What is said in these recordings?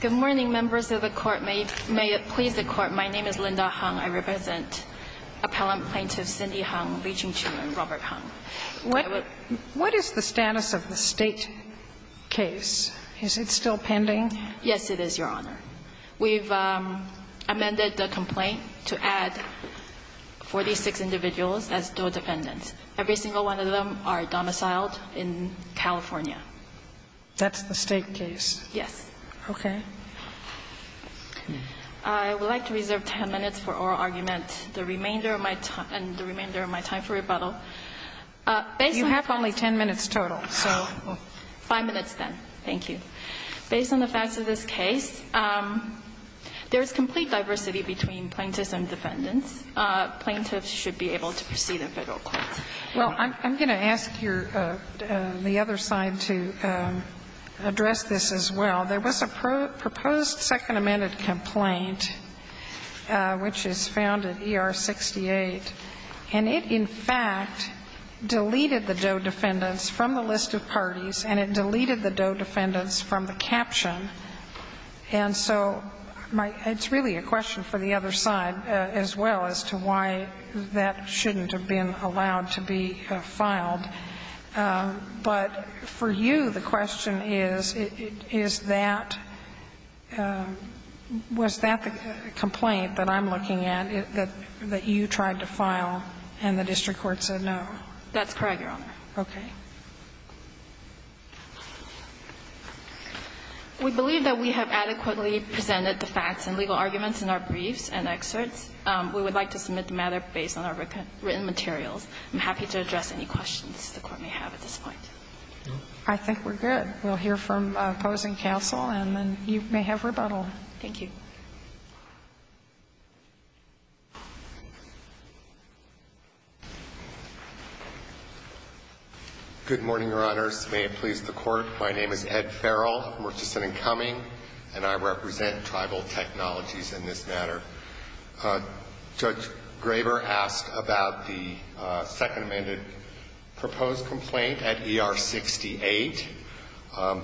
Good morning, members of the Court. May it please the Court, my name is Linda Hung. I represent Appellant Plaintiff Cindy Hung, Lee Ching-Chun, and Robert Hung. What is the status of the State case? Is it still pending? Yes, it is, Your Honor. We've amended the complaint to add 46 individuals as dual defendants. Every single one of them are domiciled in California. That's the State case. Yes. Okay. I would like to reserve 10 minutes for oral argument, the remainder of my time for rebuttal. You have only 10 minutes total. Five minutes then. Thank you. Based on the facts of this case, there is complete diversity between plaintiffs and defendants. Plaintiffs should be able to proceed in Federal court. Well, I'm going to ask your other side to address this as well. There was a proposed Second Amendment complaint which is found at ER 68, and it in fact deleted the dual defendants from the list of parties and it deleted the dual defendants from the caption. And so it's really a question for the other side as well as to why that shouldn't have been allowed to be filed. But for you, the question is, is that, was that the complaint that I'm looking at, that you tried to file and the district court said no? That's correct, Your Honor. Okay. We believe that we have adequately presented the facts and legal arguments in our briefs and excerpts. We would like to submit the matter based on our written materials. I'm happy to address any questions the Court may have at this point. I think we're good. We'll hear from opposing counsel and then you may have rebuttal. Thank you. Good morning, Your Honors. May it please the Court. My name is Ed Farrell. I'm from Richardson and Cumming, and I represent Tribal Technologies in this matter. Judge Graber asked about the second amended proposed complaint at ER 68.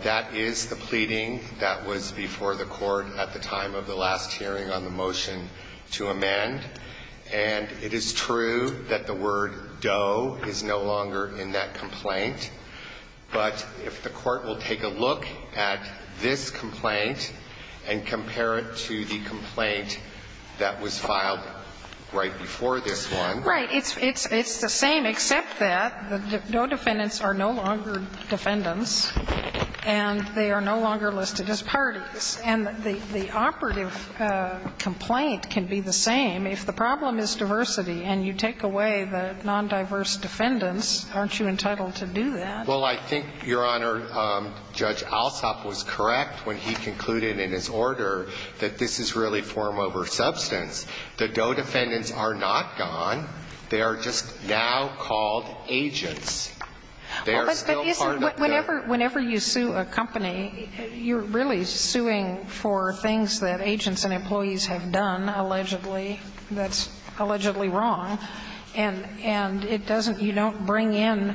That is the pleading that was before the Court at the time of the last hearing on the motion to amend. And it is true that the word dough is no longer in that complaint. But if the Court will take a look at this complaint and compare it to the complaint that was filed right before this one. Right. It's the same, except that the dough defendants are no longer defendants and they are no longer listed as parties. And the operative complaint can be the same. If the problem is diversity and you take away the nondiverse defendants, aren't you entitled to do that? Well, I think, Your Honor, Judge Alsop was correct when he concluded in his order that this is really form over substance. The dough defendants are not gone. They are just now called agents. They are still part of the dough. Whenever you sue a company, you're really suing for things that agents and employees have done, allegedly, that's allegedly wrong. And it doesn't you don't bring in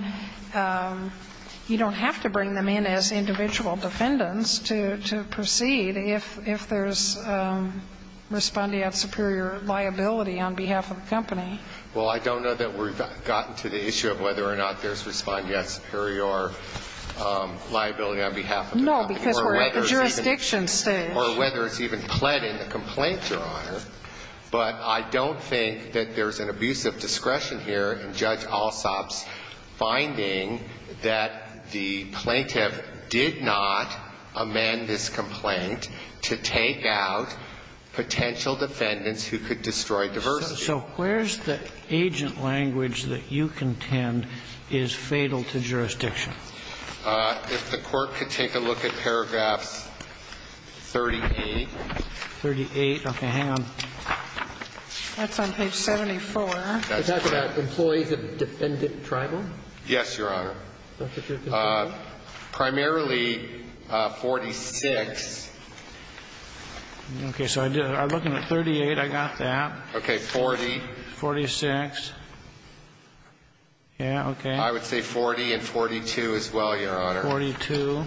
you don't have to bring them in as individual defendants to proceed if there's respondeat superior liability on behalf of the company. Well, I don't know that we've gotten to the issue of whether or not there's respondeat superior liability on behalf of the company. No, because we're at the jurisdiction stage. Or whether it's even pled in the complaint, Your Honor. But I don't think that there's an abuse of discretion here in Judge Alsop's finding that the plaintiff did not amend this complaint to take out potential defendants who could destroy diversity. So where's the agent language that you contend is fatal to jurisdiction? If the Court could take a look at paragraphs 38. 38. Okay. Hang on. That's on page 74. Let's talk about employees of defendant tribal. Yes, Your Honor. Primarily 46. Okay. So I'm looking at 38. I got that. Okay. 40. 46. Yeah. Okay. I would say 40 and 42 as well, Your Honor. 42.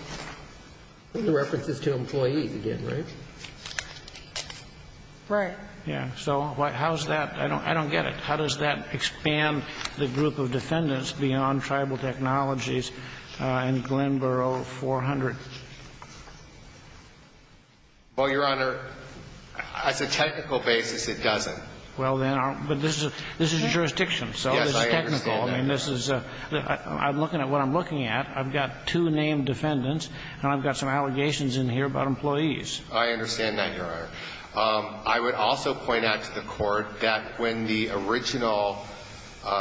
References to employees again, right? Right. Yeah. So how's that? I don't get it. How does that expand the group of defendants beyond tribal technologies in Glenboro 400? Well, Your Honor, as a technical basis, it doesn't. Well, then, but this is a jurisdiction. So this is technical. Yes, I understand that, Your Honor. I'm looking at what I'm looking at. I've got two named defendants, and I've got some allegations in here about employees. I understand that, Your Honor. I would also point out to the Court that when the original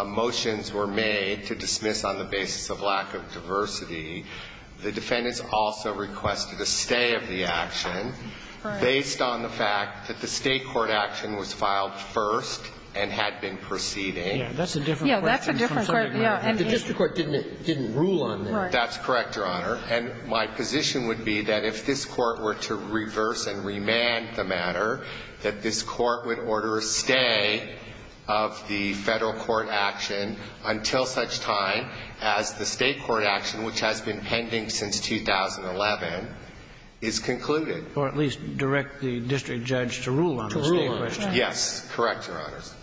motions were made to dismiss on the basis of lack of diversity, the defendants also requested a stay of the action based on the fact that the state court action was filed first and had been proceeding. Yeah. That's a different question. Yeah, that's a different question. The district court didn't rule on that. That's correct, Your Honor. And my position would be that if this Court were to reverse and remand the matter, that this Court would order a stay of the federal court action until such time as the state court action, which has been pending since 2011, is concluded. Or at least direct the district judge to rule on the stay question. To rule on the stay. Yes. Correct, Your Honors.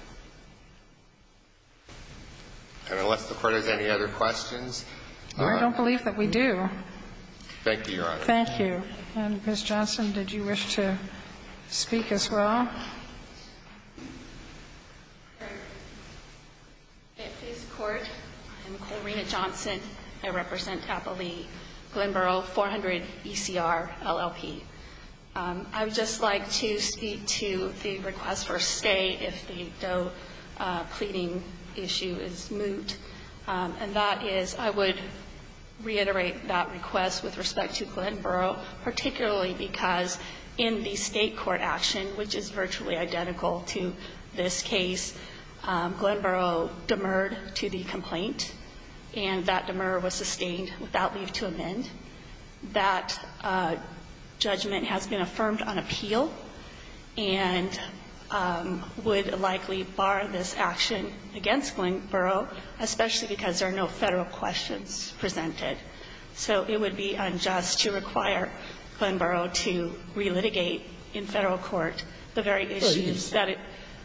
And unless the Court has any other questions. I don't believe that we do. Thank you, Your Honor. Thank you. And, Ms. Johnson, did you wish to speak as well? If this Court, I'm Corina Johnson. I represent Tappalee Glenboro 400 ECR LLP. I would just like to speak to the request for a stay if the Doe pleading issue is moot. And that is, I would reiterate that request with respect to Glenboro, particularly because in the state court action, which is virtually identical to this case, Glenboro demurred to the complaint. And that demur was sustained without leave to amend. That judgment has been affirmed on appeal and would likely bar this action against Glenboro, especially because there are no Federal questions presented. So it would be unjust to require Glenboro to relitigate in Federal court the very issues that it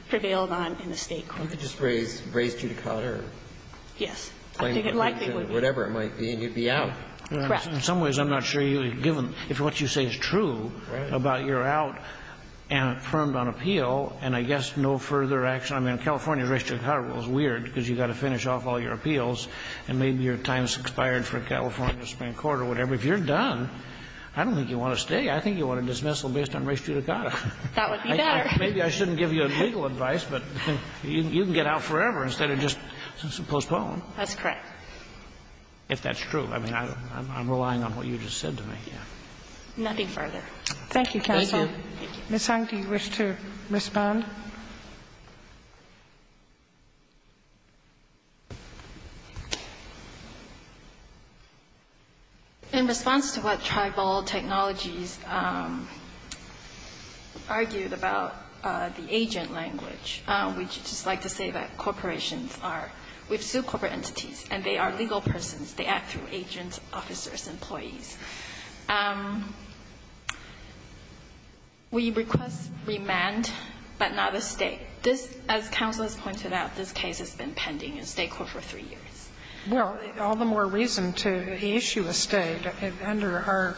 prevailed on in the state court. It could just raise Judicata or claim the claims or whatever it might be and you'd be out. Correct. In some ways, I'm not sure if what you say is true about you're out and affirmed on appeal and I guess no further action. I mean, California's race Judicata rule is weird because you've got to finish off all your appeals and maybe your time's expired for California Supreme Court or whatever. If you're done, I don't think you want to stay. I think you want a dismissal based on race Judicata. That would be better. Maybe I shouldn't give you legal advice, but you can get out forever instead of just postpone. That's correct. If that's true. I mean, I'm relying on what you just said to me. Yeah. Nothing further. Thank you, counsel. Thank you. Ms. Hong, do you wish to respond? In response to what Tribal Technologies argued about the agent language, we'd just We request remand, but not a State. This, as counsel has pointed out, this case has been pending in State court for three years. Well, all the more reason to issue a State. Under our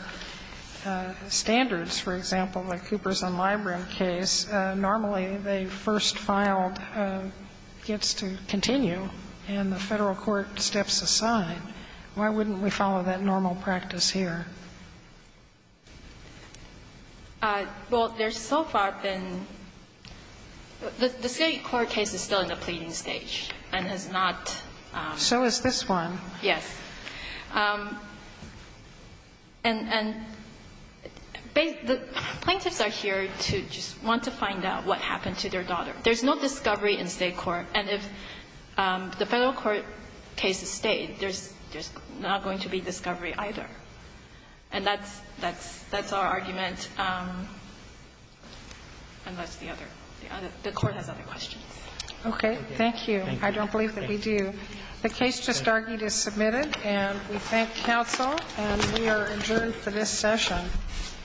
standards, for example, the Coopers and Libram case, normally the first gets to continue and the Federal court steps aside. Why wouldn't we follow that normal practice here? Well, there's so far been the State court case is still in the pleading stage and has not. So is this one. Yes. And the plaintiffs are here to just want to find out what happened to their daughter. There's no discovery in State court. And if the Federal court case is State, there's not going to be discovery either. And that's our argument. And that's the other. The court has other questions. Okay. Thank you. I don't believe that we do. The case just argued is submitted, and we thank counsel, and we are adjourned for this session.